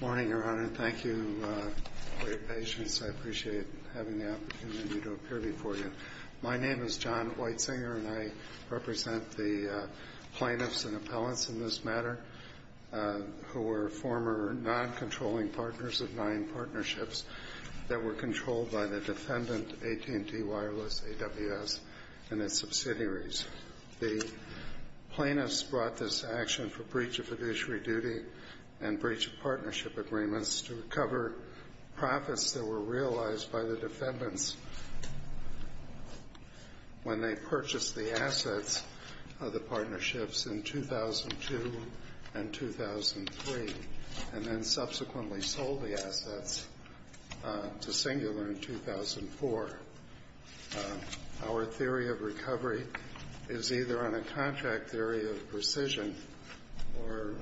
Morning, Your Honor. Thank you for your patience. I appreciate having the opportunity to appear before you. My name is John Whitesinger, and I represent the plaintiffs and appellants in this matter who were former non-controlling partners of nine partnerships that were controlled by the defendant, AT&T Wireless, AWS, and its subsidiaries. The plaintiffs brought this action for breach of fiduciary duty and breach of partnership agreements to recover profits that were realized by the defendants when they purchased the assets of the partnerships in 2002 and 2003, and then subsequently sold the assets to Singular in 2004. Our theory of recovery is either on a contract theory of precision or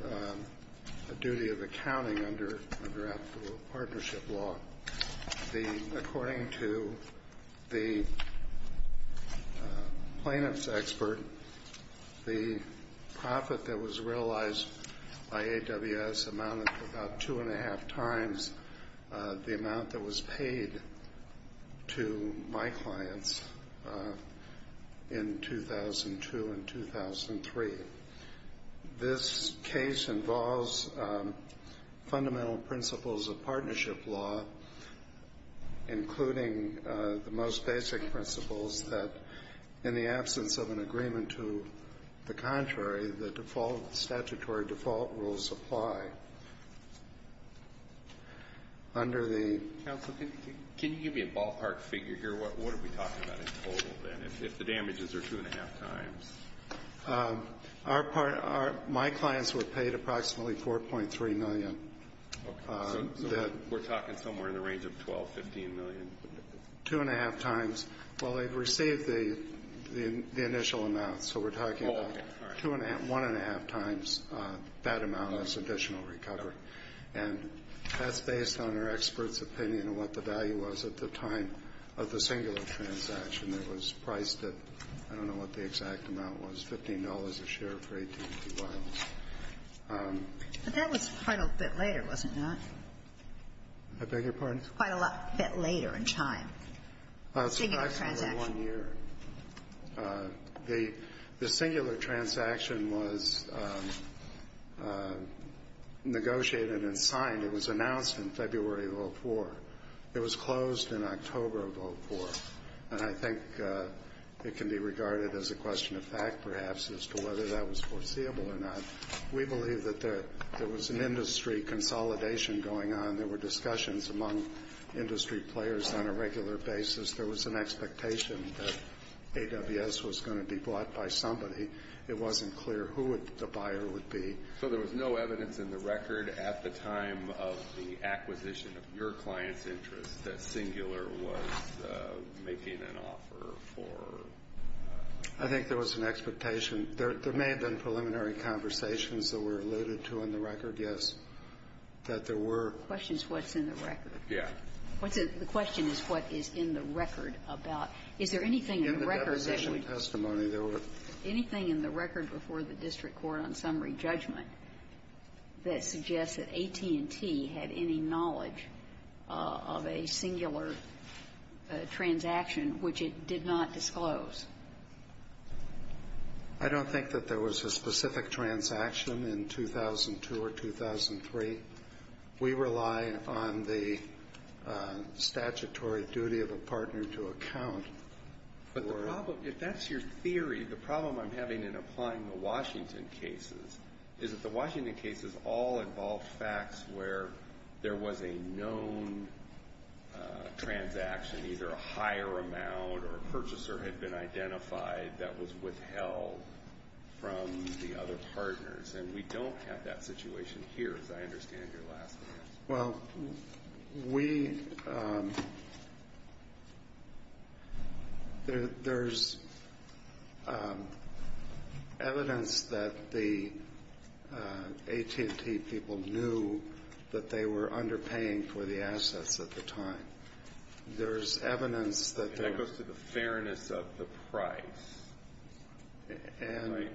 a duty of accounting under a draft of a partnership law. According to the plaintiffs' expert, the profit that was realized by AWS amounted to about two and a half times the amount that was paid to my clients in 2002 and 2003. This case involves fundamental principles of partnership law, including the most basic principles that, in the absence of an agreement to the contrary, the statutory default rules apply. Counsel, can you give me a ballpark figure here? What are we talking about in total, then, if the damages are two and a half times? My clients were paid approximately $4.3 million. We're talking somewhere in the range of $12 million, $15 million. Two and a half times. Well, they've received the initial amount, so we're talking about one and a half times that amount as additional recovery. And that's based on our experts' opinion of what the value was at the time of the Singular transaction. There was a price that, I don't know what the exact amount was, $15 a share for 182 vials. But that was quite a bit later, was it not? I beg your pardon? Quite a bit later in time. The Singular transaction. It was approximately one year. The Singular transaction was negotiated and signed. It was announced in February of 2004. It was closed in October of 2004. And I think it can be regarded as a question of fact, perhaps, as to whether that was foreseeable or not. We believe that there was an industry consolidation going on. There were discussions among industry players on a regular basis. There was an expectation that AWS was going to be bought by somebody. It wasn't clear who the buyer would be. So there was no evidence in the record at the time of the acquisition of your client's interest that Singular was making an offer for? I think there was an expectation. There may have been preliminary conversations that were alluded to in the record, yes, that there were. The question is what's in the record. Yes. The question is what is in the record about – is there anything in the record that – In the deposition testimony, there were – Anything in the record before the district court on summary judgment that suggests that AT&T had any knowledge of a Singular transaction which it did not disclose? I don't think that there was a specific transaction in 2002 or 2003. We rely on the statutory duty of a partner to account for – If that's your theory, the problem I'm having in applying the Washington cases is that the Washington cases all involved facts where there was a known transaction, either a higher amount or a purchaser had been identified that was withheld from the other partners. And we don't have that situation here, as I understand your last answer. Well, we – there's evidence that the AT&T people knew that they were underpaying for the assets at the time. There's evidence that there was – That goes to the fairness of the price, right?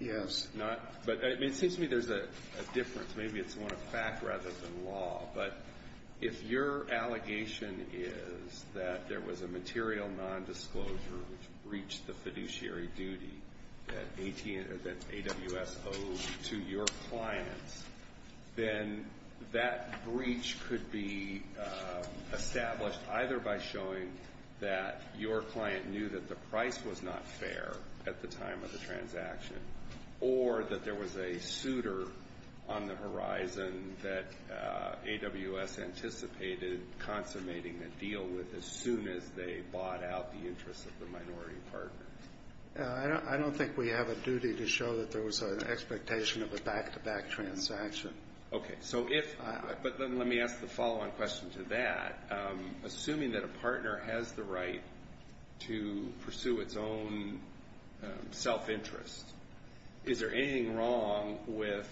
Yes. It seems to me there's a difference. Maybe it's more a fact rather than law. But if your allegation is that there was a material nondisclosure which breached the fiduciary duty that AWS owed to your clients, then that breach could be established either by showing that your client knew that the price was not fair at the time of the transaction or that there was a suitor on the horizon that AWS anticipated consummating the deal with as soon as they bought out the interests of the minority partner. I don't think we have a duty to show that there was an expectation of a back-to-back transaction. Okay. So if – but then let me ask the follow-on question to that. Assuming that a partner has the right to pursue its own self-interest, is there anything wrong with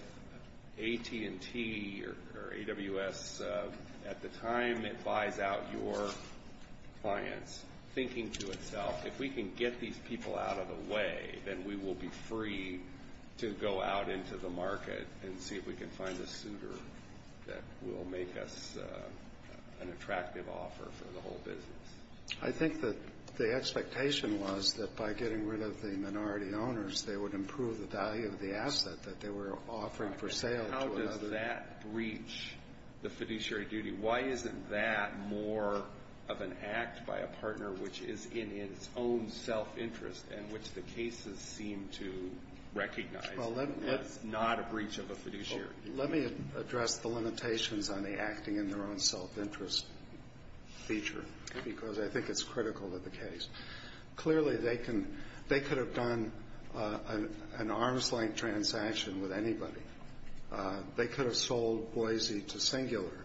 AT&T or AWS at the time it buys out your clients thinking to itself, if we can get these people out of the way, then we will be free to go out into the market and see if we can find a suitor that will make us an attractive offer for the whole business? I think that the expectation was that by getting rid of the minority owners, they would improve the value of the asset that they were offering for sale. How does that breach the fiduciary duty? Why isn't that more of an act by a partner which is in its own self-interest and which the cases seem to recognize as not a breach of a fiduciary duty? Let me address the limitations on the acting in their own self-interest feature because I think it's critical to the case. Clearly, they can – they could have done an arm's-length transaction with anybody. They could have sold Boise to Singular.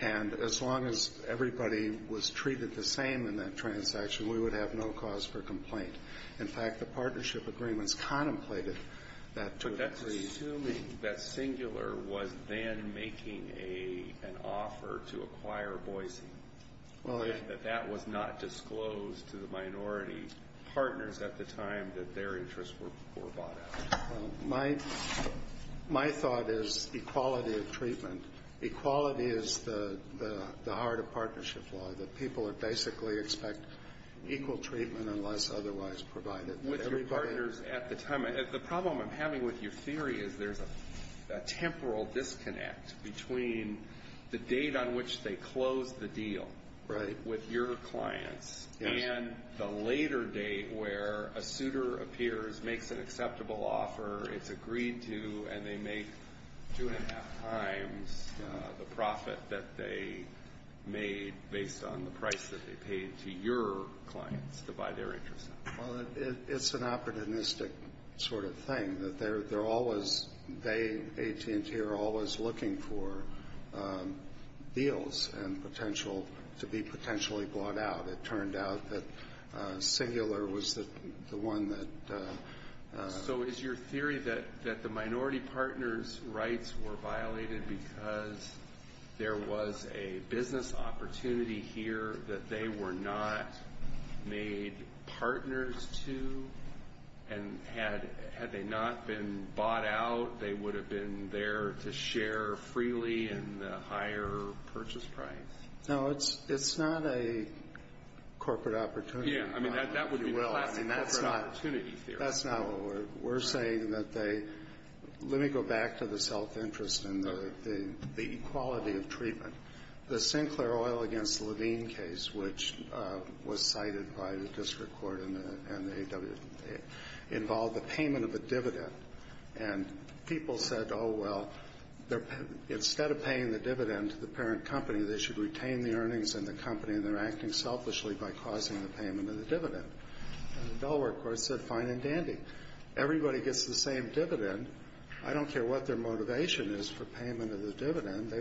And as long as everybody was treated the same in that transaction, we would have no cause for complaint. In fact, the partnership agreements contemplated that to a degree. Assuming that Singular was then making an offer to acquire Boise, that that was not disclosed to the minority partners at the time that their interests were bought out. My thought is equality of treatment. Equality is the heart of partnership law, that people basically expect equal treatment unless otherwise provided. With your partners at the time, the problem I'm having with your theory is there's a temporal disconnect between the date on which they closed the deal with your clients and the later date where a suitor appears, makes an acceptable offer, it's agreed to, and they make two and a half times the profit that they made based on the price that they paid to your clients to buy their interests out. Well, it's an opportunistic sort of thing, that they're always, they, AT&T, are always looking for deals to be potentially bought out. It turned out that Singular was the one that- So is your theory that the minority partners' rights were violated because there was a business opportunity here that they were not made partners to? And had they not been bought out, they would have been there to share freely in the higher purchase price? No, it's not a corporate opportunity. Yeah, I mean, that would be a classic corporate opportunity theory. That's not what we're saying, that they- Let me go back to the self-interest and the equality of treatment. The Sinclair Oil against Levine case, which was cited by the district court and the A.W.A., involved the payment of a dividend. And people said, oh, well, instead of paying the dividend to the parent company, they should retain the earnings in the company, and they're acting selfishly by causing the payment of the dividend. And the Delaware court said, fine and dandy. Everybody gets the same dividend. I don't care what their motivation is for payment of the dividend.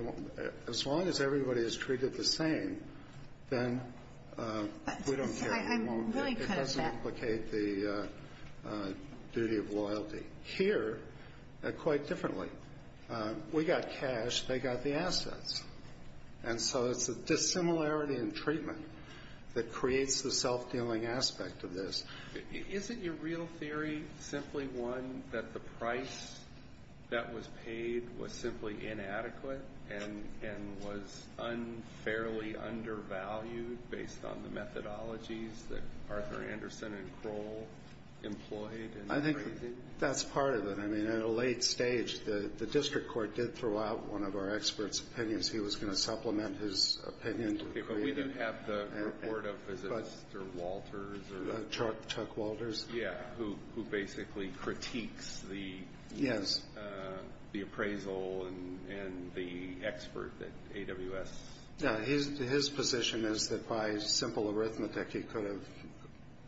As long as everybody is treated the same, then we don't care. It doesn't implicate the duty of loyalty. Here, quite differently, we got cash, they got the assets. And so it's a dissimilarity in treatment that creates the self-dealing aspect of this. Isn't your real theory simply one that the price that was paid was simply inadequate and was unfairly undervalued based on the methodologies that Arthur Anderson and Kroll employed? I think that's part of it. I mean, at a late stage, the district court did throw out one of our experts' opinions. He was going to supplement his opinion. Okay, but we didn't have the report of, is it Mr. Walters? Chuck Walters. Yeah, who basically critiques the appraisal and the expert at AWS. Yeah, his position is that by simple arithmetic, he could have,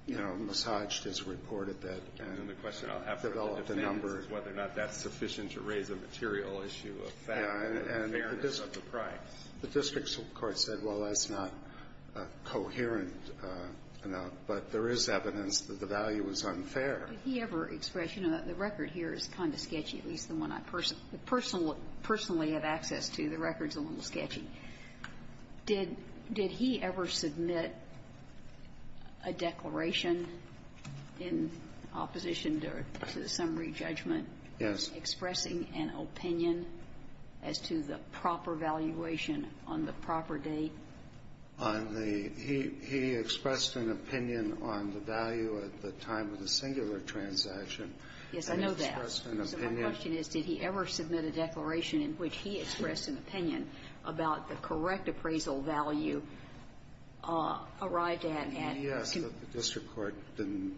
you know, massaged his report at that. And the question I'll have to ask is whether or not that's sufficient to raise a material issue of fairness of the price. The district court said, well, that's not coherent enough. But there is evidence that the value is unfair. Did he ever express, you know, the record here is kind of sketchy, at least the one I personally have access to. The record's a little sketchy. Did he ever submit a declaration in opposition to the summary judgment? Yes. Was he expressing an opinion as to the proper valuation on the proper date? On the he expressed an opinion on the value at the time of the singular transaction. Yes, I know that. And he expressed an opinion. So my question is, did he ever submit a declaration in which he expressed an opinion about the correct appraisal value arrived at? Yes, but the district court didn't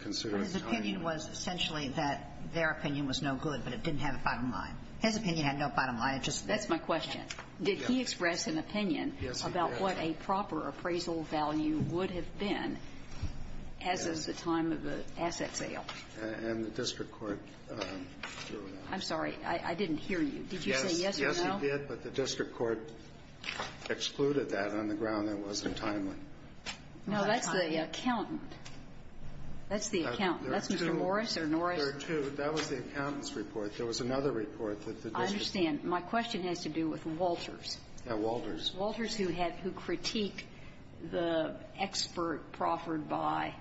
consider it. His opinion was essentially that their opinion was no good, but it didn't have a bottom line. His opinion had no bottom line. That's my question. Did he express an opinion about what a proper appraisal value would have been as is the time of the asset sale? And the district court threw it out. I'm sorry. I didn't hear you. Did you say yes or no? Yes, he did, but the district court excluded that on the ground that it wasn't timely. No, that's the accountant. That's the accountant. That's Mr. Morris or Norris. There are two. That was the accountant's report. There was another report that the district court used. I understand. My question has to do with Walters. Yeah, Walters. Walters, who had to critique the expert proffered by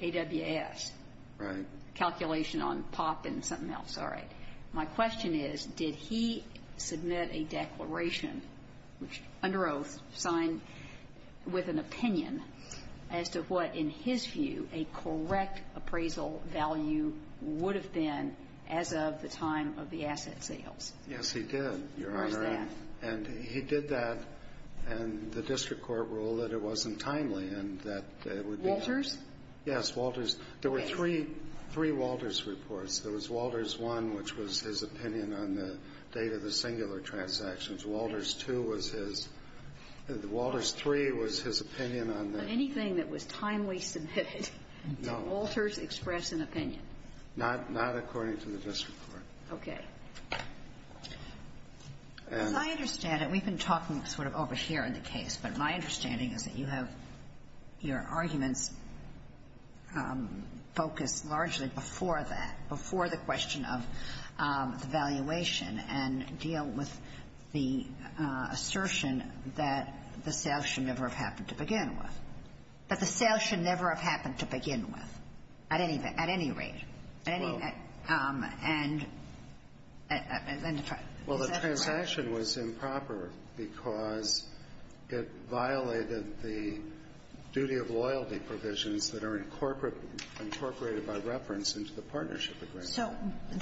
AWS. Right. Calculation on POP and something else. All right. My question is, did he submit a declaration, which under oath signed with an opinion, as to what, in his view, a correct appraisal value would have been as of the time of the asset sales? Yes, he did, Your Honor. And he did that, and the district court ruled that it wasn't timely and that it would be. Walters? Yes, Walters. There were three Walters reports. There was Walters I, which was his opinion on the date of the singular transactions. Walters II was his. Walters III was his opinion on the. Anything that was timely submitted. No. Did Walters express an opinion? Not according to the district court. Okay. As I understand it, we've been talking sort of over here in the case, but my understanding is that you have your arguments focused largely before that, before the question of the valuation, and deal with the assertion that the sale should never have happened to begin with. That the sale should never have happened to begin with, at any rate. Well. And then the transaction. Well, the transaction was improper because it violated the duty of loyalty provisions that are incorporated by reference into the partnership agreement. So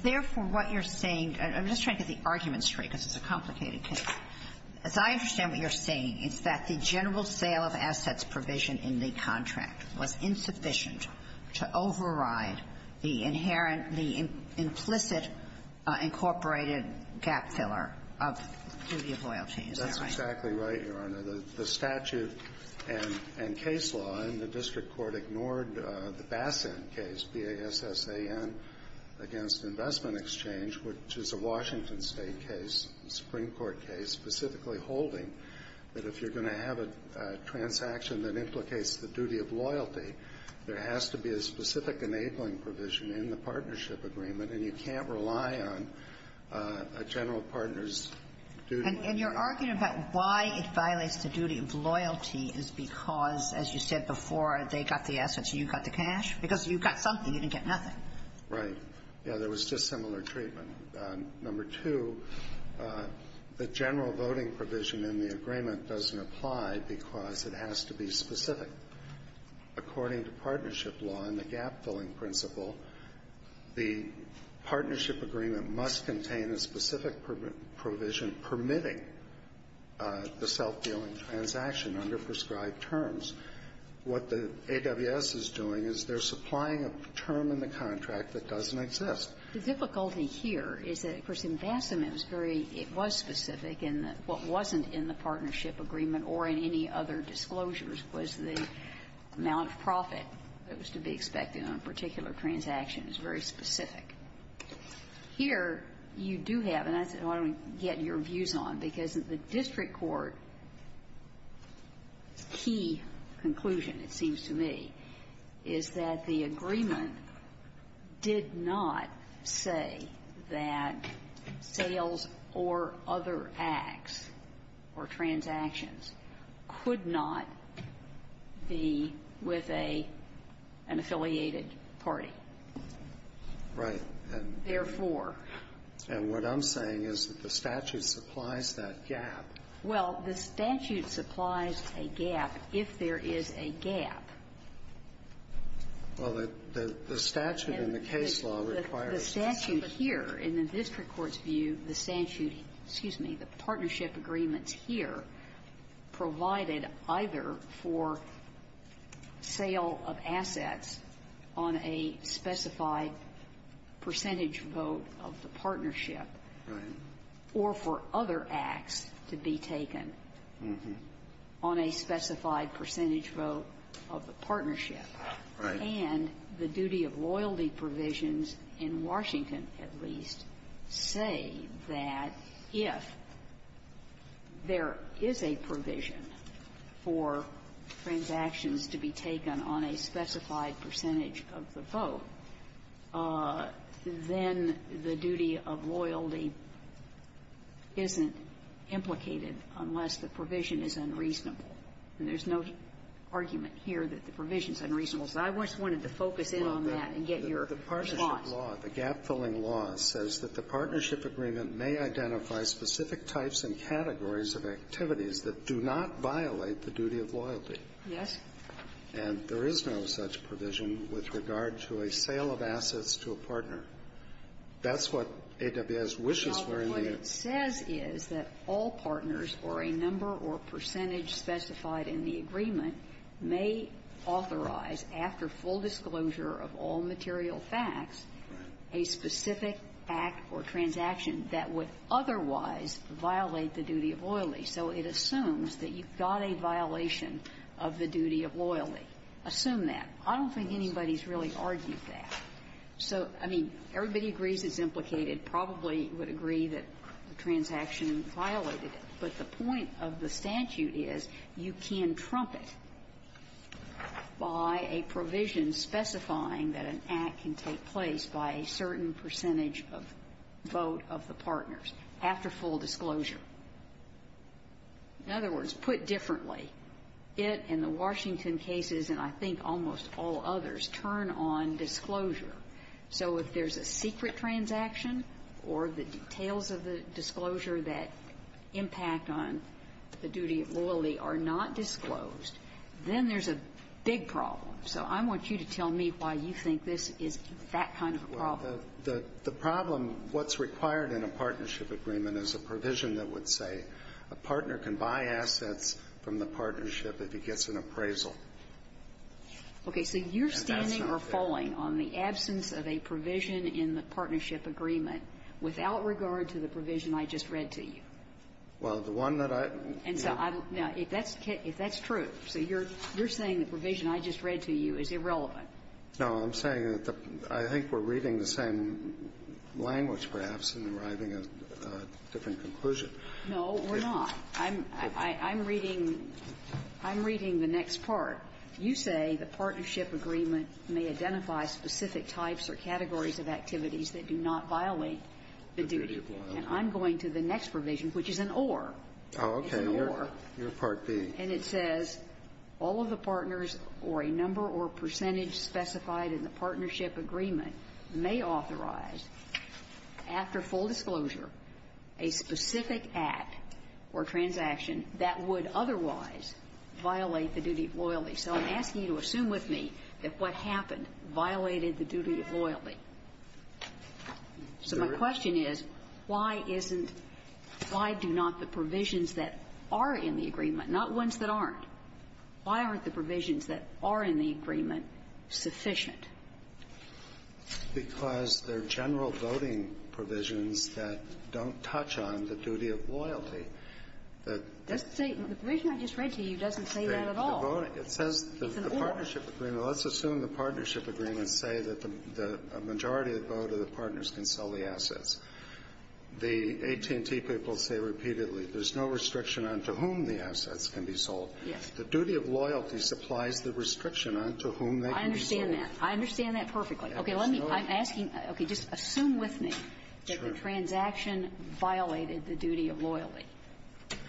therefore, what you're saying, I'm just trying to get the arguments straight because it's a complicated case. As I understand what you're saying, it's that the general sale of assets provision in the contract was insufficient to override the inherent, the implicit incorporated gap filler of duty of loyalty. Is that right? That's exactly right, Your Honor. The statute and case law in the district court ignored the Bassin case, B-A-S-S-A-N, against investment exchange, which is a Washington State case, Supreme Court case, specifically holding that if you're going to have a transaction that implicates the duty of loyalty, there has to be a specific enabling provision in the partnership agreement, and you can't rely on a general partner's duty. And you're arguing about why it violates the duty of loyalty is because, as you said before, they got the assets and you got the cash? Because if you got something, you didn't get nothing. Right. Yeah, there was just similar treatment. Number two, the general voting provision in the agreement doesn't apply because it has to be specific. According to partnership law and the gap-filling principle, the partnership agreement must contain a specific provision permitting the self-dealing transaction under prescribed terms. What the AWS is doing is they're supplying a term in the contract that doesn't exist. The difficulty here is that, of course, in Bassin, it was very – it was specific in the – what wasn't in the partnership agreement or in any other disclosures was the amount of profit that was to be expected on a particular transaction is very specific. Here, you do have – and I said, why don't we get your views on, because the district court's key conclusion, it seems to me, is that the agreement did not say that sales or other acts or transactions could not be with a – an affiliated party. Right. Therefore – And what I'm saying is that the statute supplies that gap. Well, the statute supplies a gap if there is a gap. Well, the statute in the case law requires – The statute here, in the district court's view, the statute – excuse me – the partnership agreements here provided either for sale of assets on a specified percentage vote of the partnership or for other acts to be taken on a specified percentage vote of the partnership. Right. And the duty of loyalty provisions in Washington, at least, say that if there is a provision for transactions to be taken on a specified percentage of the vote, then the duty of loyalty isn't implicated unless the provision is unreasonable. And there's no argument here that the provision is unreasonable. So I just wanted to focus in on that and get your response. Well, the partnership law, the gap-filling law, says that the partnership agreement may identify specific types and categories of activities that do not violate the duty of loyalty. Yes. And there is no such provision with regard to a sale of assets to a partner. That's what AWS wishes were in the end. Well, but what it says is that all partners or a number or percentage specified in the agreement may authorize, after full disclosure of all material facts, a specific act or transaction that would otherwise violate the duty of loyalty. So it assumes that you've got a violation of the duty of loyalty. Assume that. I don't think anybody's really argued that. So, I mean, everybody agrees it's implicated, probably would agree that the transaction violated it. But the point of the statute is you can trump it by a provision specifying that an act can take place by a certain percentage of vote of the partners after full disclosure. In other words, put differently, it and the Washington cases and I think almost all others turn on disclosure. So if there's a secret transaction or the details of the disclosure that impact on the duty of loyalty are not disclosed, then there's a big problem. So I want you to tell me why you think this is that kind of a problem. The problem, what's required in a partnership agreement is a provision that would say a partner can buy assets from the partnership if he gets an appraisal. Okay. So you're standing or falling on the absence of a provision in the partnership agreement without regard to the provision I just read to you. Well, the one that I ---- And so I don't know if that's true. So you're saying the provision I just read to you is irrelevant. No. I'm saying that I think we're reading the same language, perhaps, and arriving at a different conclusion. No, we're not. I'm reading the next part. You say the partnership agreement may identify specific types or categories of activities that do not violate the duty of loyalty. And I'm going to the next provision, which is an or. Oh, okay. Your Part B. And it says all of the partners or a number or percentage specified in the partnership agreement may authorize, after full disclosure, a specific act or transaction that would otherwise violate the duty of loyalty. So I'm asking you to assume with me that what happened violated the duty of loyalty. So my question is, why isn't ---- why do not the provisions that are in the agreement not ones that aren't? Why aren't the provisions that are in the agreement sufficient? Because they're general voting provisions that don't touch on the duty of loyalty. The ---- The provision I just read to you doesn't say that at all. It says the partnership agreement. Let's assume the partnership agreements say that the majority of the vote of the partners can sell the assets. The AT&T people say repeatedly there's no restriction on to whom the assets can be sold. Yes. The duty of loyalty supplies the restriction on to whom they can be sold. I understand that. I understand that perfectly. Okay. Let me ---- Absolutely. I'm asking, okay, just assume with me that the transaction violated the duty of loyalty.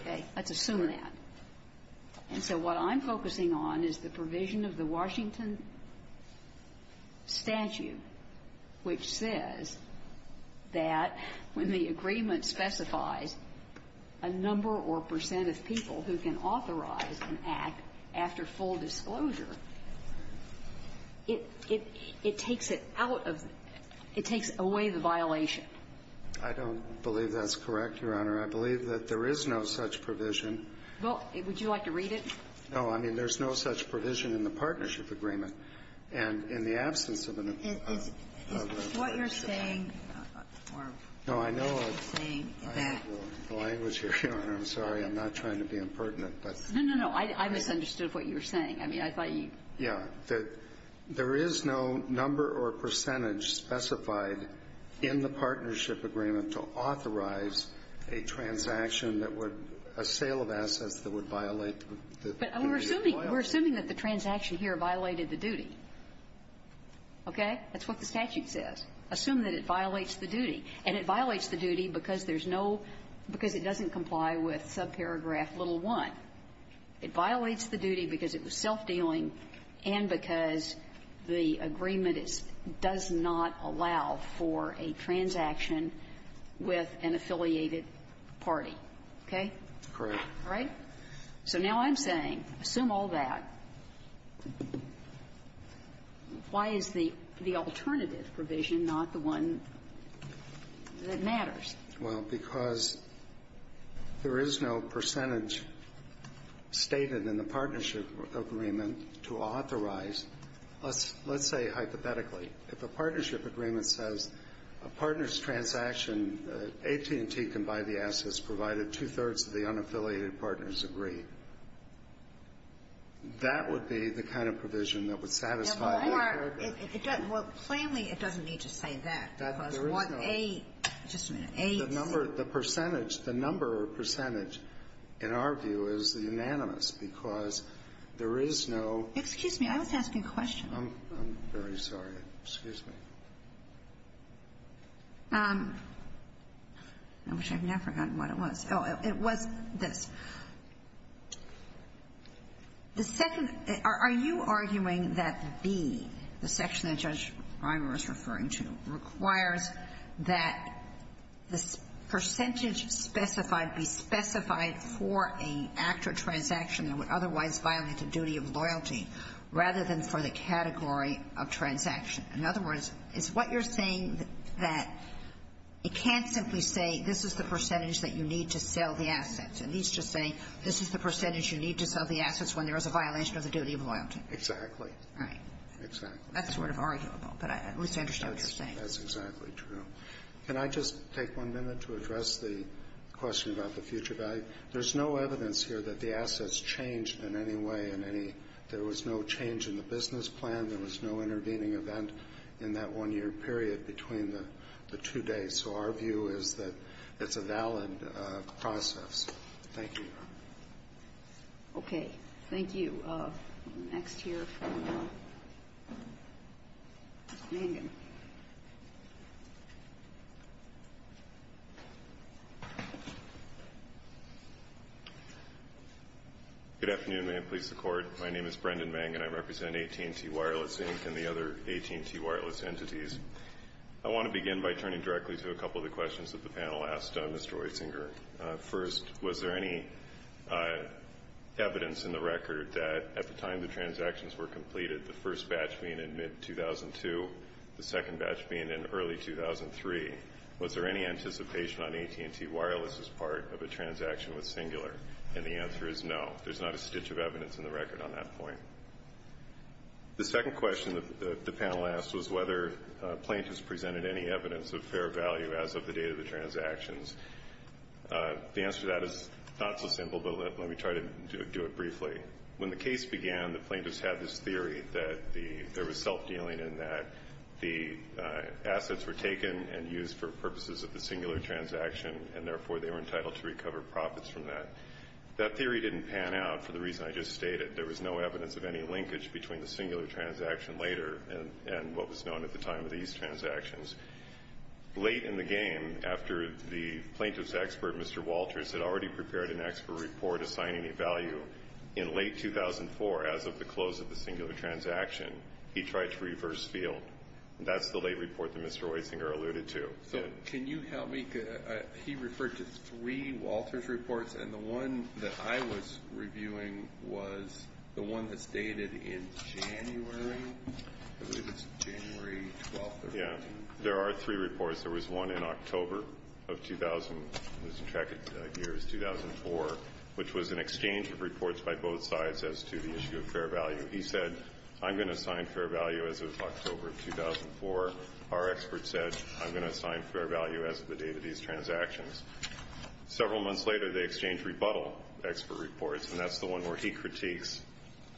Okay. Let's assume that. And so what I'm focusing on is the provision of the Washington statute, which says that when the agreement specifies a number or percent of people who can authorize an act after full disclosure, it takes it out of the ---- it takes away the violation. I don't believe that's correct, Your Honor. I believe that there is no such provision. Well, would you like to read it? No. I mean, there's no such provision in the partnership agreement. And in the absence of a ---- Is what you're saying or saying that ---- No, I know the language here, Your Honor. I'm sorry. I'm not trying to be impertinent, but ---- No, no, no. I misunderstood what you were saying. I mean, I thought you ---- Yeah. There is no number or percentage specified in the partnership agreement to authorize a transaction that would ---- a sale of assets that would violate the duty of loyalty. But we're assuming that the transaction here violated the duty. Okay? That's what the statute says. Assume that it violates the duty. And it violates the duty because there's no ---- because it doesn't comply with subparagraph little one. It violates the duty because it was self-dealing and because the agreement does not allow for a transaction with an affiliated party. Okay? Correct. All right? So now I'm saying, assume all that. Why is the alternative provision not the one that matters? Well, because there is no percentage stated in the partnership agreement to authorize ---- let's say hypothetically, if a partnership agreement says a partner's transaction AT&T can buy the assets provided two-thirds of the unaffiliated partners agree, that would be the kind of provision that would satisfy the paragraph. Or it doesn't ---- well, plainly, it doesn't need to say that. There is no ---- Because what a ---- just a minute. A, C ---- The number, the percentage, the number or percentage, in our view, is unanimous because there is no ---- Excuse me. I was asking a question. I'm very sorry. Excuse me. I wish I had never gotten what it was. Oh, it was this. The second ---- are you arguing that B, the section that Judge Reimer is referring to, requires that the percentage specified be specified for an act or transaction that would otherwise violate the duty of loyalty rather than for the category of transaction? In other words, it's what you're saying that it can't simply say this is the percentage that you need to sell the assets. It needs to say this is the percentage you need to sell the assets when there is a violation of the duty of loyalty. Exactly. Right. Exactly. That's sort of arguable, but at least I understand what you're saying. That's exactly true. Can I just take one minute to address the question about the future value? There's no evidence here that the assets changed in any way. There was no change in the business plan. There was no intervening event in that one-year period between the two days. So our view is that it's a valid process. Thank you. Okay. Thank you. Next here from Brendan. Good afternoon. May it please the Court. My name is Brendan Vang, and I represent AT&T Wireless Inc. and the other AT&T wireless entities. I want to begin by turning directly to a couple of the questions that the panel asked Mr. Weisinger. First, was there any evidence in the record that at the time the transactions were completed, the first batch being in mid-2002, the second batch being in early 2003, was there any anticipation on AT&T Wireless's part of a transaction with Singular? And the answer is no. There's not a stitch of evidence in the record on that point. The second question that the panel asked was whether plaintiffs presented any evidence of fair value as of the date of the transactions. The answer to that is not so simple, but let me try to do it briefly. When the case began, the plaintiffs had this theory that there was self-dealing and that the assets were taken and used for purposes of the Singular transaction, and therefore they were entitled to recover profits from that. That theory didn't pan out for the reason I just stated. There was no evidence of any linkage between the Singular transaction later and what was known at the time of these transactions. Late in the game, after the plaintiff's expert, Mr. Walters, had already prepared an expert report assigning a value in late 2004 as of the close of the Singular transaction, he tried to reverse field. That's the late report that Mr. Weisinger alluded to. Can you help me? He referred to three Walters reports, and the one that I was reviewing was the one that's dated in January. I believe it's January 12th or 13th. Yeah. There are three reports. There was one in October of 2000. I'm losing track of the year. It was 2004, which was an exchange of reports by both sides as to the issue of fair value. He said, I'm going to assign fair value as of October of 2004. Our expert said, I'm going to assign fair value as of the date of these transactions. Several months later, they exchanged rebuttal expert reports, and that's the one where he critiques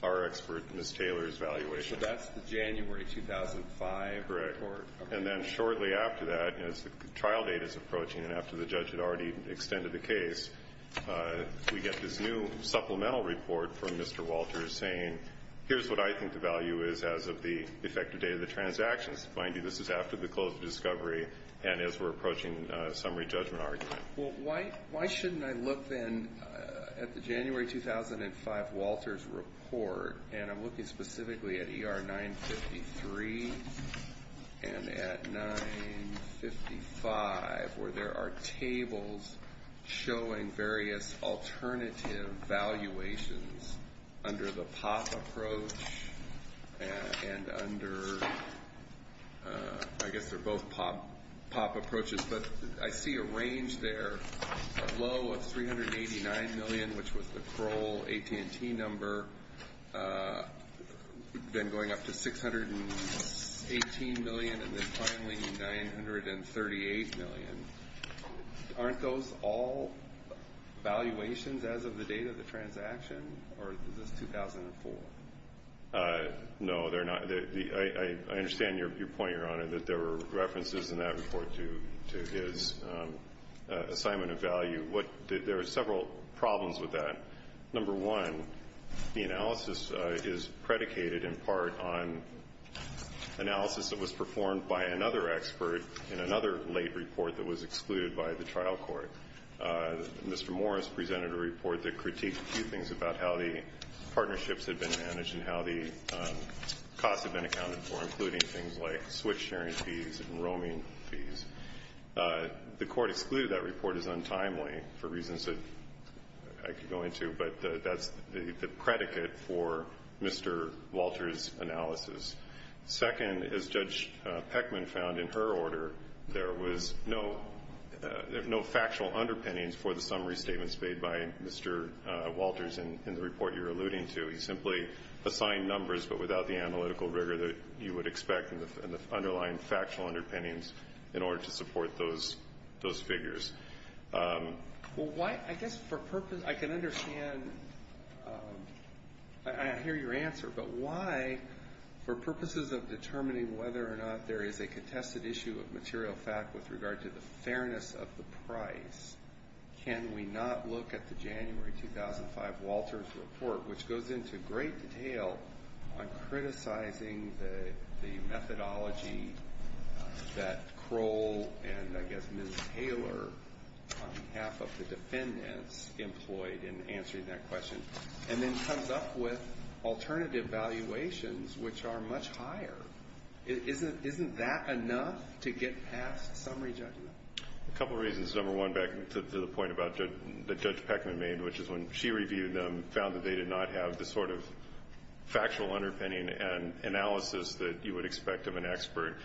our expert, Ms. Taylor's, valuation. So that's the January 2005 report? Correct. And then shortly after that, as the trial date is approaching and after the judge had already extended the case, we get this new supplemental report from Mr. Walters saying, here's what I think the value is as of the effective date of the transactions. Mind you, this is after the close of discovery and as we're approaching summary judgment argument. Well, why shouldn't I look then at the January 2005 Walters report and I'm looking specifically at ER 953 and at 955 where there are tables showing various alternative valuations under the POP approach and under, I guess they're both POP approaches. But I see a range there, a low of $389 million, which was the Kroll AT&T number, then going up to $618 million, and then finally $938 million. Aren't those all valuations as of the date of the transaction or is this 2004? No, they're not. I understand your point, Your Honor, that there were references in that report to his assignment of value. There are several problems with that. Number one, the analysis is predicated in part on analysis that was performed by another expert in another late report that was excluded by the trial court. Mr. Morris presented a report that critiqued a few things about how the system was being managed and how the costs had been accounted for, including things like switch sharing fees and roaming fees. The court excluded that report as untimely for reasons that I could go into, but that's the predicate for Mr. Walters' analysis. Second, as Judge Peckman found in her order, there was no factual underpinnings for the summary statements made by Mr. Walters in the report you're alluding to. He simply assigned numbers but without the analytical rigor that you would expect in the underlying factual underpinnings in order to support those figures. Well, I guess for purposes of determining whether or not there is a contested issue of material fact with regard to the fairness of the price, can we not look at the January 2005 Walters report, which goes into great detail on criticizing the methodology that Kroll and I guess Ms. Taylor, on behalf of the defendants, employed in answering that question and then comes up with alternative valuations which are much higher. Isn't that enough to get past summary judgment? A couple of reasons. Number one, back to the point that Judge Peckman made, which is when she reviewed them, found that they did not have the sort of factual underpinning and analysis that you would expect of an expert.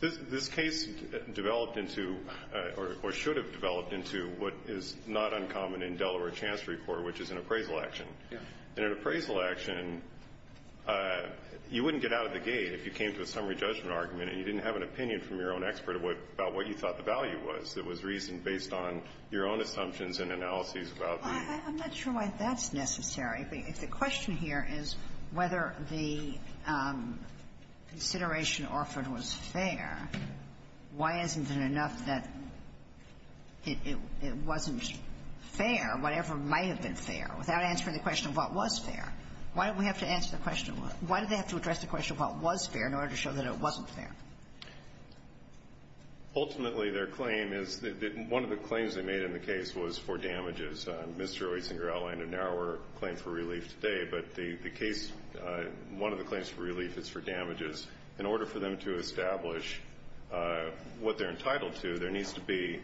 This case developed into or should have developed into what is not uncommon in Delaware Chance Report, which is an appraisal action. In an appraisal action, you wouldn't get out of the gate if you came to a summary judgment argument and you didn't have an opinion from your own expert about what you thought the value was. It was reasoned based on your own assumptions and analyses about the ---- I'm not sure why that's necessary. If the question here is whether the consideration offered was fair, why isn't it enough that it wasn't fair, whatever might have been fair, without answering the question of what was fair? Why do we have to answer the question? Why do they have to address the question of what was fair in order to show that it wasn't fair? Ultimately, their claim is that one of the claims they made in the case was for damages. Mr. Oetsinger outlined a narrower claim for relief today, but the case, one of the claims for relief is for damages. In order for them to establish what they're entitled to, there needs to be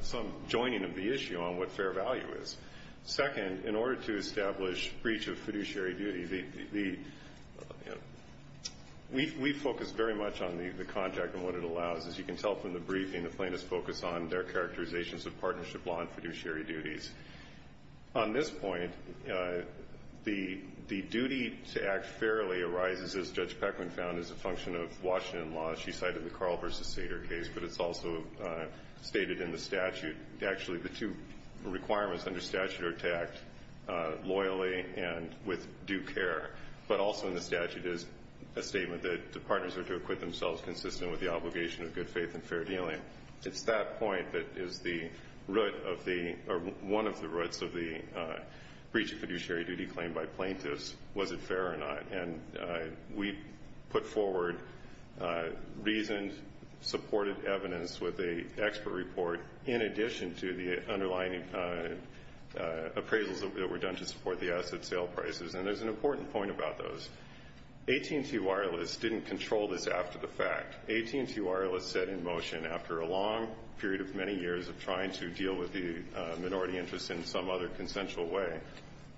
some joining of the issue on what fair value is. Second, in order to establish breach of fiduciary duty, we focus very much on the contract and what it allows. As you can tell from the briefing, the plaintiffs focus on their characterizations of partnership law and fiduciary duties. On this point, the duty to act fairly arises, as Judge Peckman found, as a function of Washington law. She cited the Carl v. Sater case, but it's also stated in the statute. Actually, the two requirements under statute are tacked loyally and with due care, but also in the statute is a statement that the partners are to equip themselves consistent with the obligation of good faith and fair dealing. It's that point that is the root of the, or one of the roots of the breach of fiduciary duty claim by plaintiffs, was it fair or not. And we put forward reasoned, supported evidence with an expert report in addition to the underlying appraisals that were done to support the asset sale prices. And there's an important point about those. AT&T Wireless didn't control this after the fact. AT&T Wireless set in motion after a long period of many years of trying to deal with the minority interest in some other consensual way,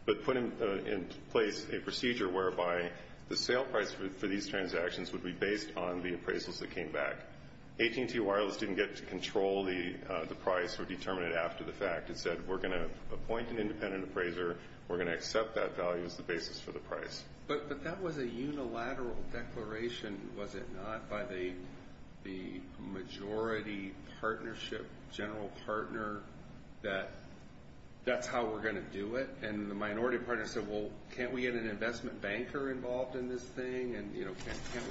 but put in place a procedure whereby the sale price for these transactions would be based on the appraisals that came back. AT&T Wireless didn't get to control the price or determine it after the fact. It said, we're going to appoint an independent appraiser. We're going to accept that value as the basis for the price. But that was a unilateral declaration, was it not, by the majority partnership, general partner, that that's how we're going to do it. And the minority partner said, well, can't we get an investment banker involved in this thing, and can't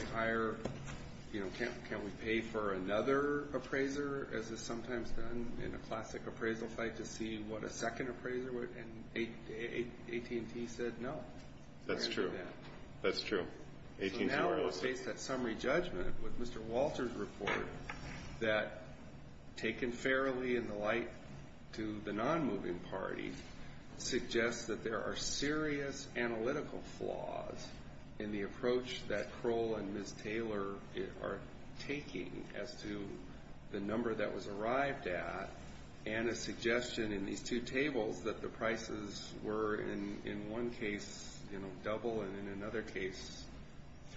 we pay for another appraiser, as is sometimes done in a classic appraisal fight, to see what a second appraiser would? And AT&T said, no. That's true. That's true. AT&T Wireless did. So now we'll face that summary judgment with Mr. Walter's report that, taken fairly in the light to the non-moving party, suggests that there are serious analytical flaws in the approach that Kroll and Ms. Taylor are taking as to the number that was arrived at and a suggestion in these two tables that the prices were, in one case, double and, in another case,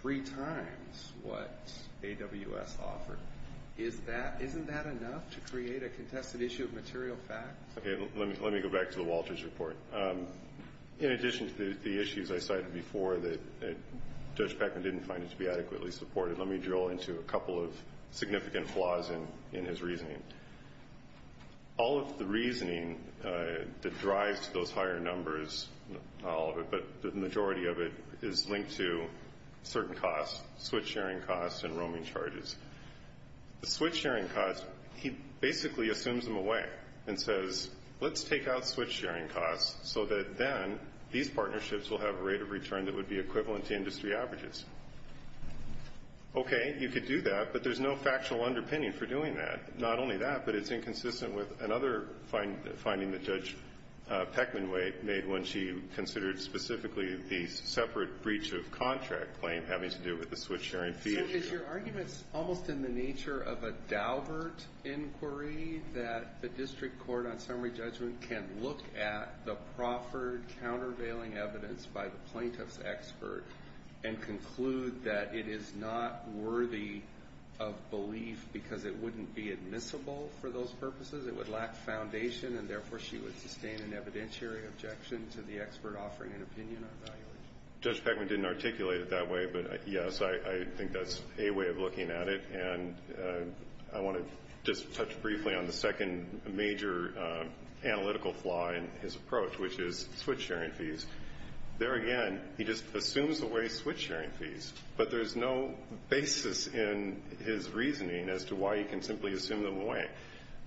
three times what AWS offered. Isn't that enough to create a contested issue of material facts? Okay. Let me go back to the Walters report. In addition to the issues I cited before, that Judge Beckman didn't find it to be adequately supported, let me drill into a couple of significant flaws in his reasoning. All of the reasoning that drives those higher numbers, not all of it, but the majority of it, is linked to certain costs, switch-sharing costs and roaming charges. The switch-sharing costs, he basically assumes them away and says, let's take out switch-sharing costs so that then these partnerships will have a rate of return that would be equivalent to industry averages. Okay, you could do that, but there's no factual underpinning for doing that. Not only that, but it's inconsistent with another finding that Judge Beckman made when she considered specifically the separate breach of contract claim having to do with the switch-sharing fee. Is your argument almost in the nature of a Daubert inquiry that the district court on summary judgment can look at the proffered countervailing evidence by the plaintiff's expert and conclude that it is not worthy of belief because it wouldn't be admissible for those purposes? It would lack foundation, and therefore she would sustain an evidentiary objection to the expert offering an opinion on valuation? Judge Beckman didn't articulate it that way, but yes, I think that's a way of looking at it, and I want to just touch briefly on the second major analytical flaw in his approach, which is switch-sharing fees. There again, he just assumes away switch-sharing fees, but there's no basis in his reasoning as to why he can simply assume them away.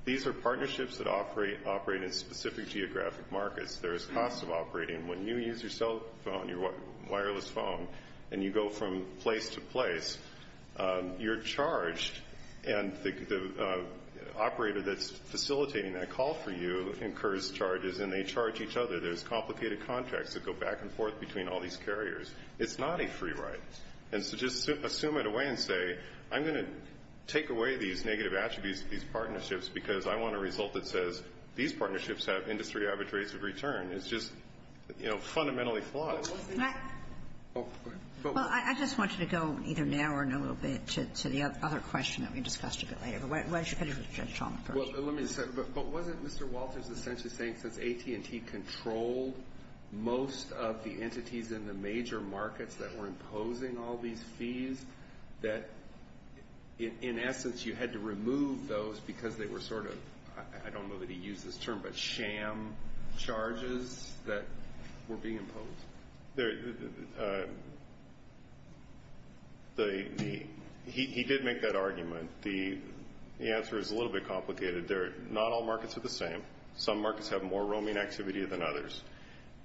These are partnerships that operate in specific geographic markets. There is cost of operating. When you use your cell phone, your wireless phone, and you go from place to place, you're charged, and the operator that's facilitating that call for you incurs charges, and they charge each other. There's complicated contracts that go back and forth between all these carriers. It's not a free ride, and so just assume it away and say, I'm going to take away these negative attributes of these partnerships because I want a result that says these partnerships have industry average rates of return. It's just fundamentally flawed. Well, I just want you to go either now or in a little bit to the other question that we discussed a bit later. Why don't you finish with Judge Chalmers first? Well, let me just say, but wasn't Mr. Walters essentially saying since AT&T controlled most of the entities in the major markets that were imposing all these fees, that in essence, you had to remove those because they were sort of, I don't know that he used this term, but sham charges that were being imposed? He did make that argument. The answer is a little bit complicated. Not all markets are the same. Some markets have more roaming activity than others.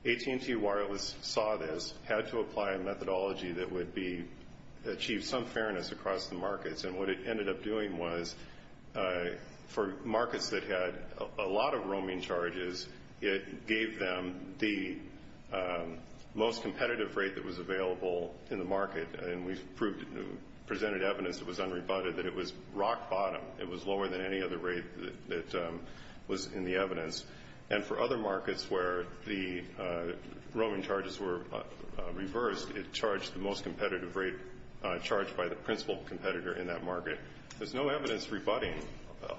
AT&T Wireless saw this, had to apply a methodology that would achieve some fairness across the markets, and what it ended up doing was for markets that had a lot of roaming charges, it gave them the most competitive rate that was available in the market, and we presented evidence that was unrebutted that it was rock bottom. It was lower than any other rate that was in the evidence, and for other markets where the roaming charges were reversed, it charged the most competitive rate charged by the principal competitor in that market. There's no evidence rebutting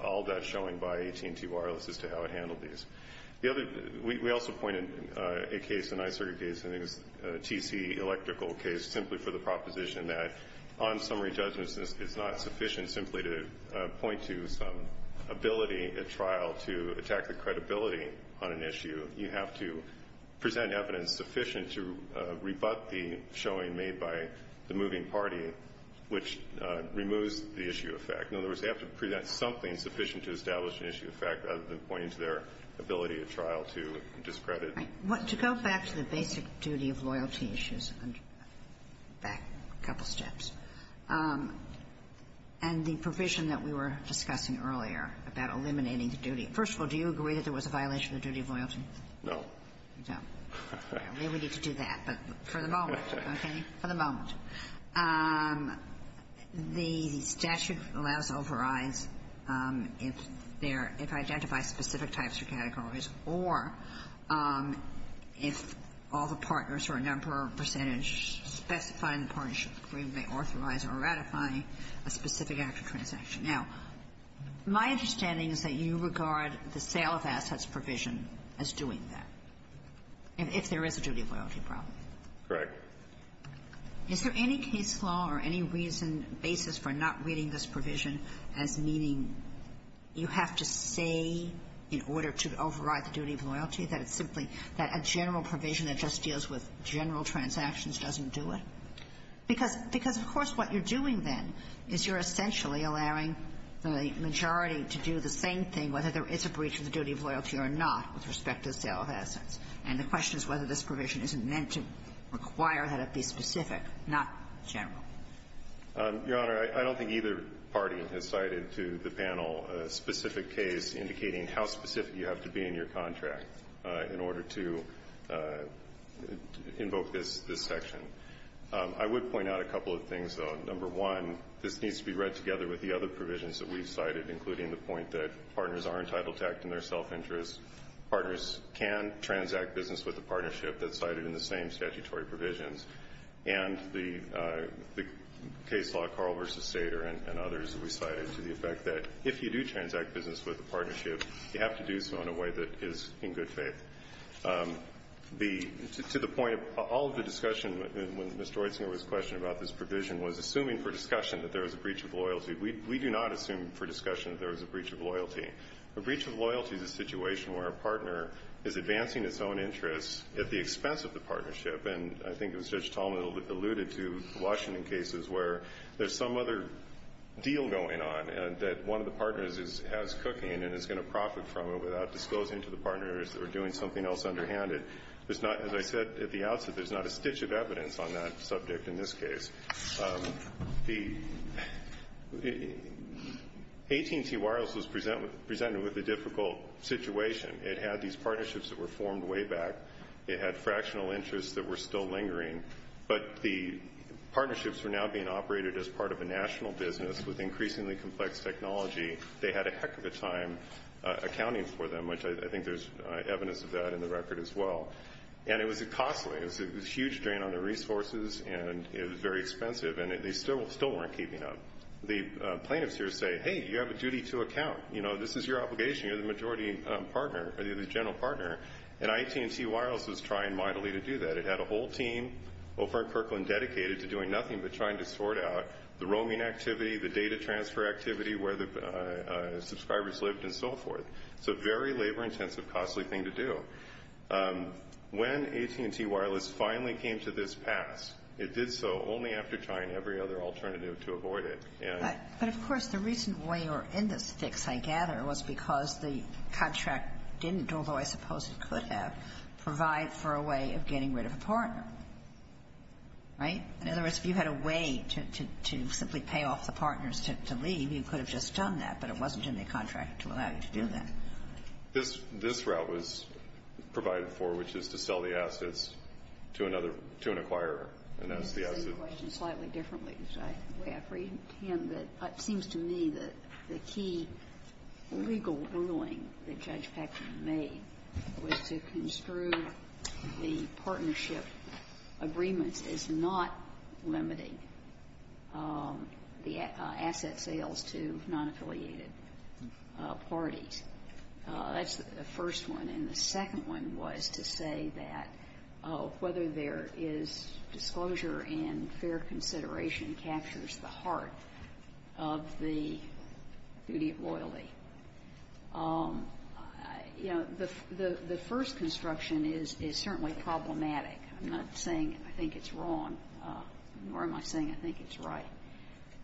all that showing by AT&T Wireless as to how it handled these. We also pointed a case, a nicer case, a TC electrical case simply for the proposition that on summary judgments, it's not sufficient simply to point to some ability at trial to attack the credibility on an issue. You have to present evidence sufficient to rebut the showing made by the moving party, which removes the issue of fact. In other words, they have to present something sufficient to establish an issue of fact rather than pointing to their ability at trial to discredit. To go back to the basic duty of loyalty issues, back a couple steps, and the provision that we were discussing earlier about eliminating the duty. First of all, do you agree that there was a violation of the duty of loyalty? No. No. Maybe we need to do that, but for the moment, okay? For the moment. The statute allows overrides if there – if I identify specific types or categories or if all the partners or a number of percentage specifying the partnership agreement may authorize or ratify a specific after transaction. Now, my understanding is that you regard the sale of assets provision as doing that, if there is a duty of loyalty problem. Correct. Is there any case law or any reason, basis for not reading this provision as meaning you have to say in order to override the duty of loyalty that it's simply that a general provision that just deals with general transactions doesn't do it? Because of course what you're doing then is you're essentially allowing the majority to do the same thing whether there is a breach of the duty of loyalty or not with respect to the sale of assets. And the question is whether this provision isn't meant to require that it be specific, not general. Your Honor, I don't think either party has cited to the panel a specific case indicating how specific you have to be in your contract in order to invoke this section. I would point out a couple of things, though. Number one, this needs to be read together with the other provisions that we've cited, including the point that partners are entitled to act in their self-interest. Partners can transact business with a partnership that's cited in the same statutory provisions. And the case law Carl v. Sater and others that we cited to the effect that if you do transact business with a partnership, you have to do so in a way that is in good faith. To the point of all of the discussion when Mr. Oitsinger was questioning about this provision was assuming for discussion that there was a breach of loyalty. We do not assume for discussion that there was a breach of loyalty. A breach of loyalty is a situation where a partner is advancing its own interests at the expense of the partnership. And I think it was Judge Tallman that alluded to the Washington cases where there's some other deal going on that one of the partners has cooking and is going to profit from it without disclosing to the partners or doing something else underhanded. As I said at the outset, there's not a stitch of evidence on that subject in this case. The AT&T Wireless was presented with a difficult situation. It had these partnerships that were formed way back. It had fractional interests that were still lingering. But the partnerships were now being operated as part of a national business with increasingly complex technology. They had a heck of a time accounting for them, which I think there's evidence of that in the record as well. And it was costly. It was a huge drain on their resources and it was very expensive and they still weren't keeping up. The plaintiffs here say, hey, you have a duty to account. You know, this is your obligation. You're the majority partner, the general partner. And AT&T Wireless was trying mightily to do that. It had a whole team over at Kirkland dedicated to doing nothing but trying to sort out the roaming activity, the data transfer activity, where the subscribers lived, and so forth. It's a very labor-intensive, costly thing to do. When AT&T Wireless finally came to this pass, it did so only after trying every other alternative to avoid it. But of course, the reason why you're in this fix, I gather, was because the contract didn't, although I suppose it could have, provide for a way of getting rid of a partner. Right? In other words, if you had a way to simply pay off the partners to leave, you could have just done that, but it wasn't in the contract to allow you to do that. This route was provided for, which is to sell the assets to another, to an acquirer, and that's the asset. Let me say the question slightly differently because I have reason to him that it seems to me that the key legal ruling that Judge Paxson made was to construe the partnership agreements as not limiting the asset sales to non-affiliated parties. That's the first one. And the second one was to say that whether there is disclosure and fair consideration captures the heart of the duty of loyalty. You know, the first construction is certainly problematic. I'm not saying I think it's wrong, nor am I saying I think it's right.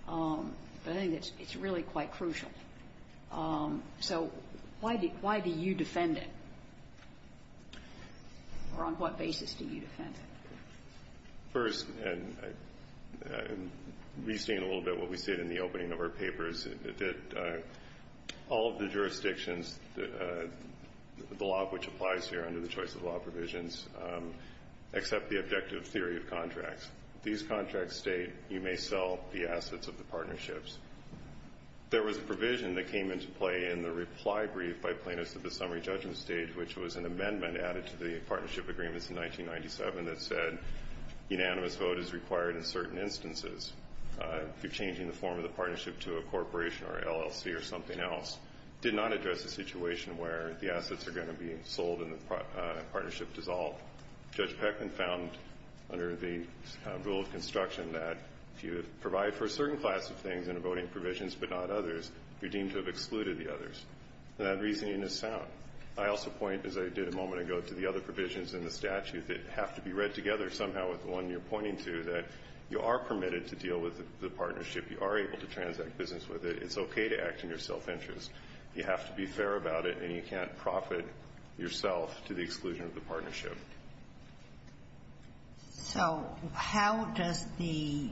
But I think it's really quite crucial. So why do you defend it? Or on what basis do you defend it? First, and restating a little bit what we said in the opening of our papers, that all of the jurisdictions, the law of which applies here under the choice of law provisions, accept the objective theory of contracts. These contracts state you may sell the assets of the partnerships. There was a provision that came into play in the reply brief by plaintiffs at the summary judgment stage, which was an amendment added to the partnership agreements in 1997 that said unanimous vote is required in certain instances. If you're changing the form of the partnership to a corporation or LLC or something else, did not address the situation where the assets are going to be sold and the partnership dissolved. Judge Peckman found, under the rule of construction, that if you provide for a certain class of things under voting provisions but not others, you're deemed to have excluded the others. That reasoning is sound. I also point, as I did a moment ago, to the other provisions in the statute that have to be read together somehow with the one you're pointing to, that you are permitted to deal with the partnership. You are able to transact business with it. It's okay to act in your self-interest. You have to be fair about it, and you can't profit yourself to the exclusion of the partnership. So how does the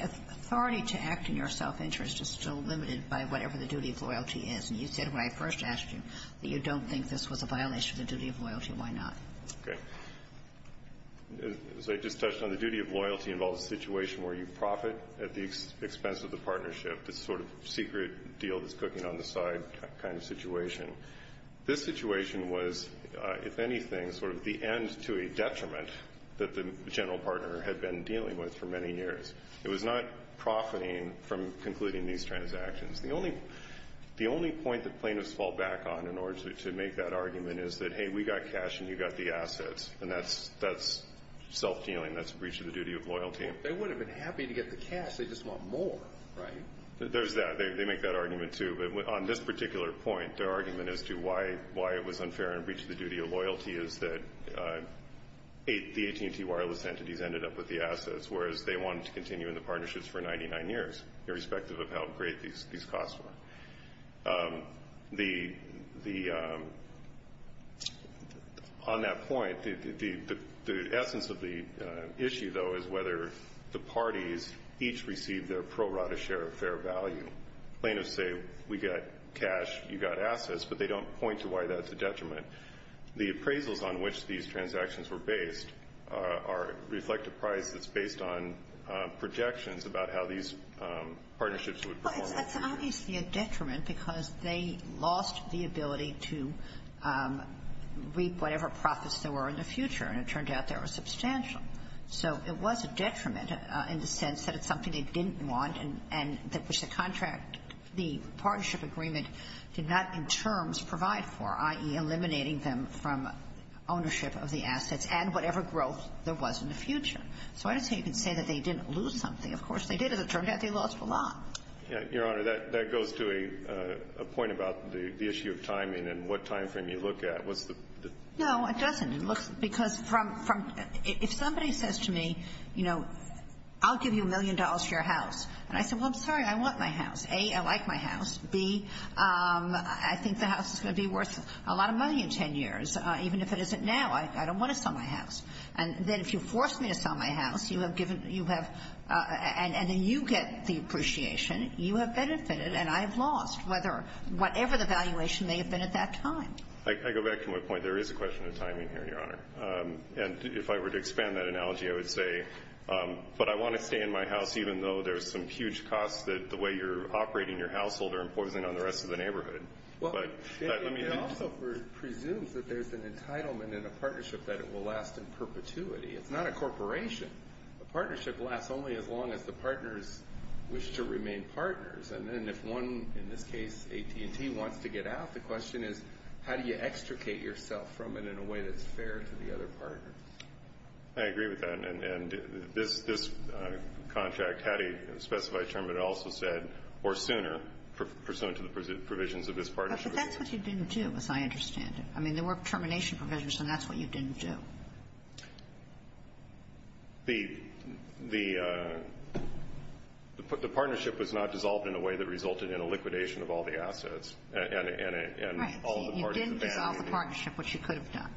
authority to act in your self-interest is still limited by whatever the duty of loyalty is? And you said when I first asked you that you don't think this was a violation of the duty of loyalty. Why not? Okay. As I just touched on, the duty of loyalty involves a situation where you profit at the expense of the partnership, this sort of secret deal that's cooking on the side kind of situation. This situation was, if anything, sort of the end to a detriment that the general partner had been dealing with for many years. It was not profiting from concluding these transactions. The only point that plaintiffs fall back on in order to make that argument is that, hey, we got cash and you got the assets, and that's self-dealing. That's a breach of the duty of loyalty. They wouldn't have been happy to get the cash. They just want more, right? There's that. They make that argument, too. But on this particular point, their argument as to why it was unfair and a breach of the duty of loyalty is that the AT&T wireless entities ended up with the assets, whereas they wanted to continue in the partnerships for 99 years, irrespective of how great these costs were. On that point, the essence of the issue, though, is whether the parties each received their pro rata share of fair value. Plaintiffs say, we got cash, you got assets, but they don't point to why that's a detriment. The appraisals on which these transactions were based reflect a price that's based on projections about how these partnerships would perform. It's obviously a detriment because they lost the ability to reap whatever profits there were in the future, and it turned out they were substantial. So it was a detriment in the sense that it's something they didn't want and that the partnership agreement did not in terms provide for, i.e. eliminating them from ownership of the assets and whatever growth there was in the future. So I don't say you can say that they didn't lose something. Of course they did. As it turned out, they lost a lot. Your Honor, that goes to a point about the issue of timing and what time frame you look at. No, it doesn't. Because if somebody says to me, you know, I'll give you a million dollars for your house, and I say, well, I'm sorry, I want my house. A, I like my house. B, I think the house is going to be worth a lot of money in ten years, even if it isn't now. I don't want to sell my house. And then if you force me to sell my house, you have given, you have, and then you get the appreciation. You have benefited, and I have lost, whether, whatever the valuation may have been at that time. I go back to my point. There is a question of timing here, Your Honor. And if I were to expand that analogy, I would say, but I want to stay in my house even though there's some huge costs that the way you're operating your household are imposing on the rest of the neighborhood. But let me... It also presumes that there's an entitlement in a partnership that it will last in perpetuity. It's not a corporation. A partnership lasts only as long as the partners wish to remain partners. And then if one, in this case AT&T, wants to get out, the question is, how do you extricate yourself from it in a way that's fair to the other partners? I agree with that. And this contract had a specified term, but it also said, or sooner, pursuant to the provisions of this partnership... But that's what you didn't do, as I understand it. I mean, there were termination provisions, and that's what you didn't do. The partnership was not dissolved in a way that resulted in a liquidation of all the assets. Right. You didn't dissolve the partnership, which you could have done.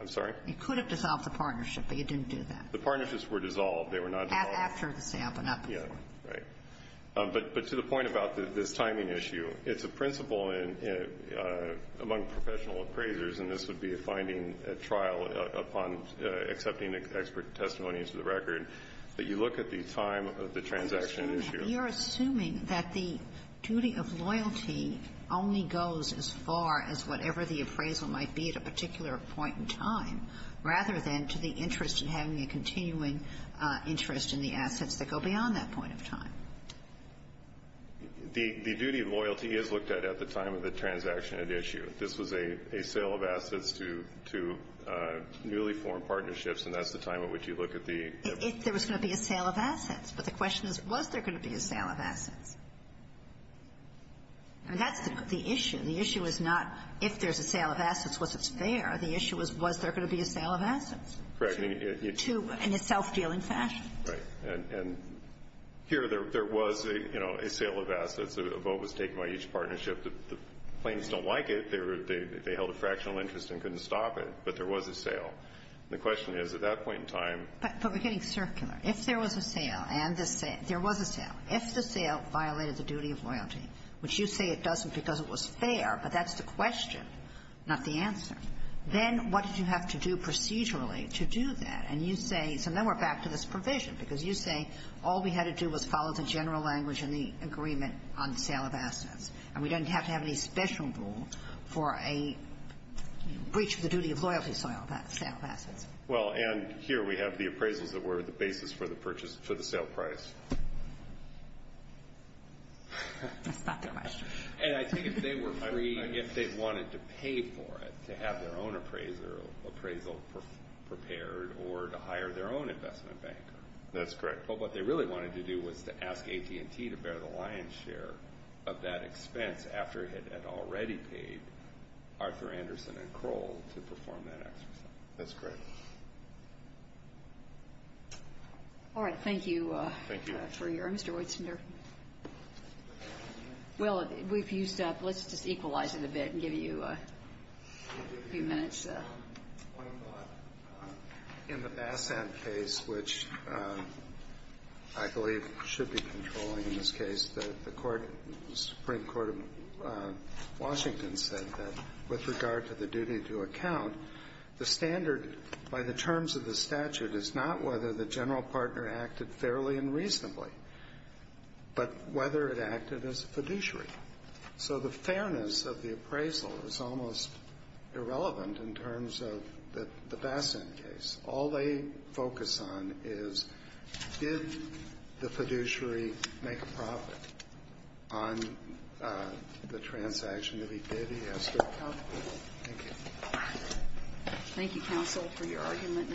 I'm sorry? You could have dissolved the partnership, but you didn't do that. The partnerships were dissolved. They were not dissolved. After the sale, but not before. Right. But to the point about this timing issue, it's a principle among professional appraisers, and this would be a finding at trial upon accepting expert testimony into the record, that you look at the time of the transaction issue... You're assuming that the duty of loyalty only goes as far as whatever the appraisal might be at a particular point in time, rather than to the interest in having a continuing interest in the assets that go beyond that point in time. The duty of loyalty is looked at at the time of the transaction at issue. This was a sale of assets to newly formed partnerships, and that's the time at which you look at the... If there was going to be a sale of assets. But the question is, was there going to be a sale of assets? And that's the issue. The issue is not, if there's a sale of assets, was it fair? The issue is, was there going to be a sale of assets? Correct. In a self-dealing fashion. Right. And here there was, you know, a sale of assets. A vote was taken by each partnership. The claims don't like it. They held a fractional interest and couldn't stop it. But there was a sale. The question is, at that point in time... But we're getting circular. If there was a sale, and there was a sale, if the sale violated the duty of loyalty, which you say it doesn't because it was fair, but that's the question, not the answer, then what did you have to do procedurally to do that? And you say, so then we're back to this provision, because you say all we had to do was follow the general language and the agreement on the sale of assets, and we don't have to have any special rule for a breach of the duty of loyalty sale of assets. Well, and here we have the appraisals that were the basis for the sale price. That's not the question. And I think if they were free, if they wanted to pay for it, to have their own appraisal prepared or to hire their own investment banker. That's correct. Well, what they really wanted to do was to ask AT&T to bear the lion's share of that expense after it had already paid Arthur Anderson and Kroll to perform that exercise. That's correct. All right, thank you for your... Thank you. Mr. Weitzender. Well, we've used up... Let's just equalize it a bit and give you a few minutes. In the Bassin case, which I believe should be controlling in this case, the Supreme Court of Washington said that with regard to the duty to account, the standard by the terms of the statute is not whether the general partner acted fairly and reasonably, but whether it acted as a fiduciary. So the fairness of the appraisal is almost irrelevant in terms of the Bassin case. All they focus on is, did the fiduciary make a profit on the transaction? If he did, he has to account for it. Thank you. Thank you, counsel, for your argument.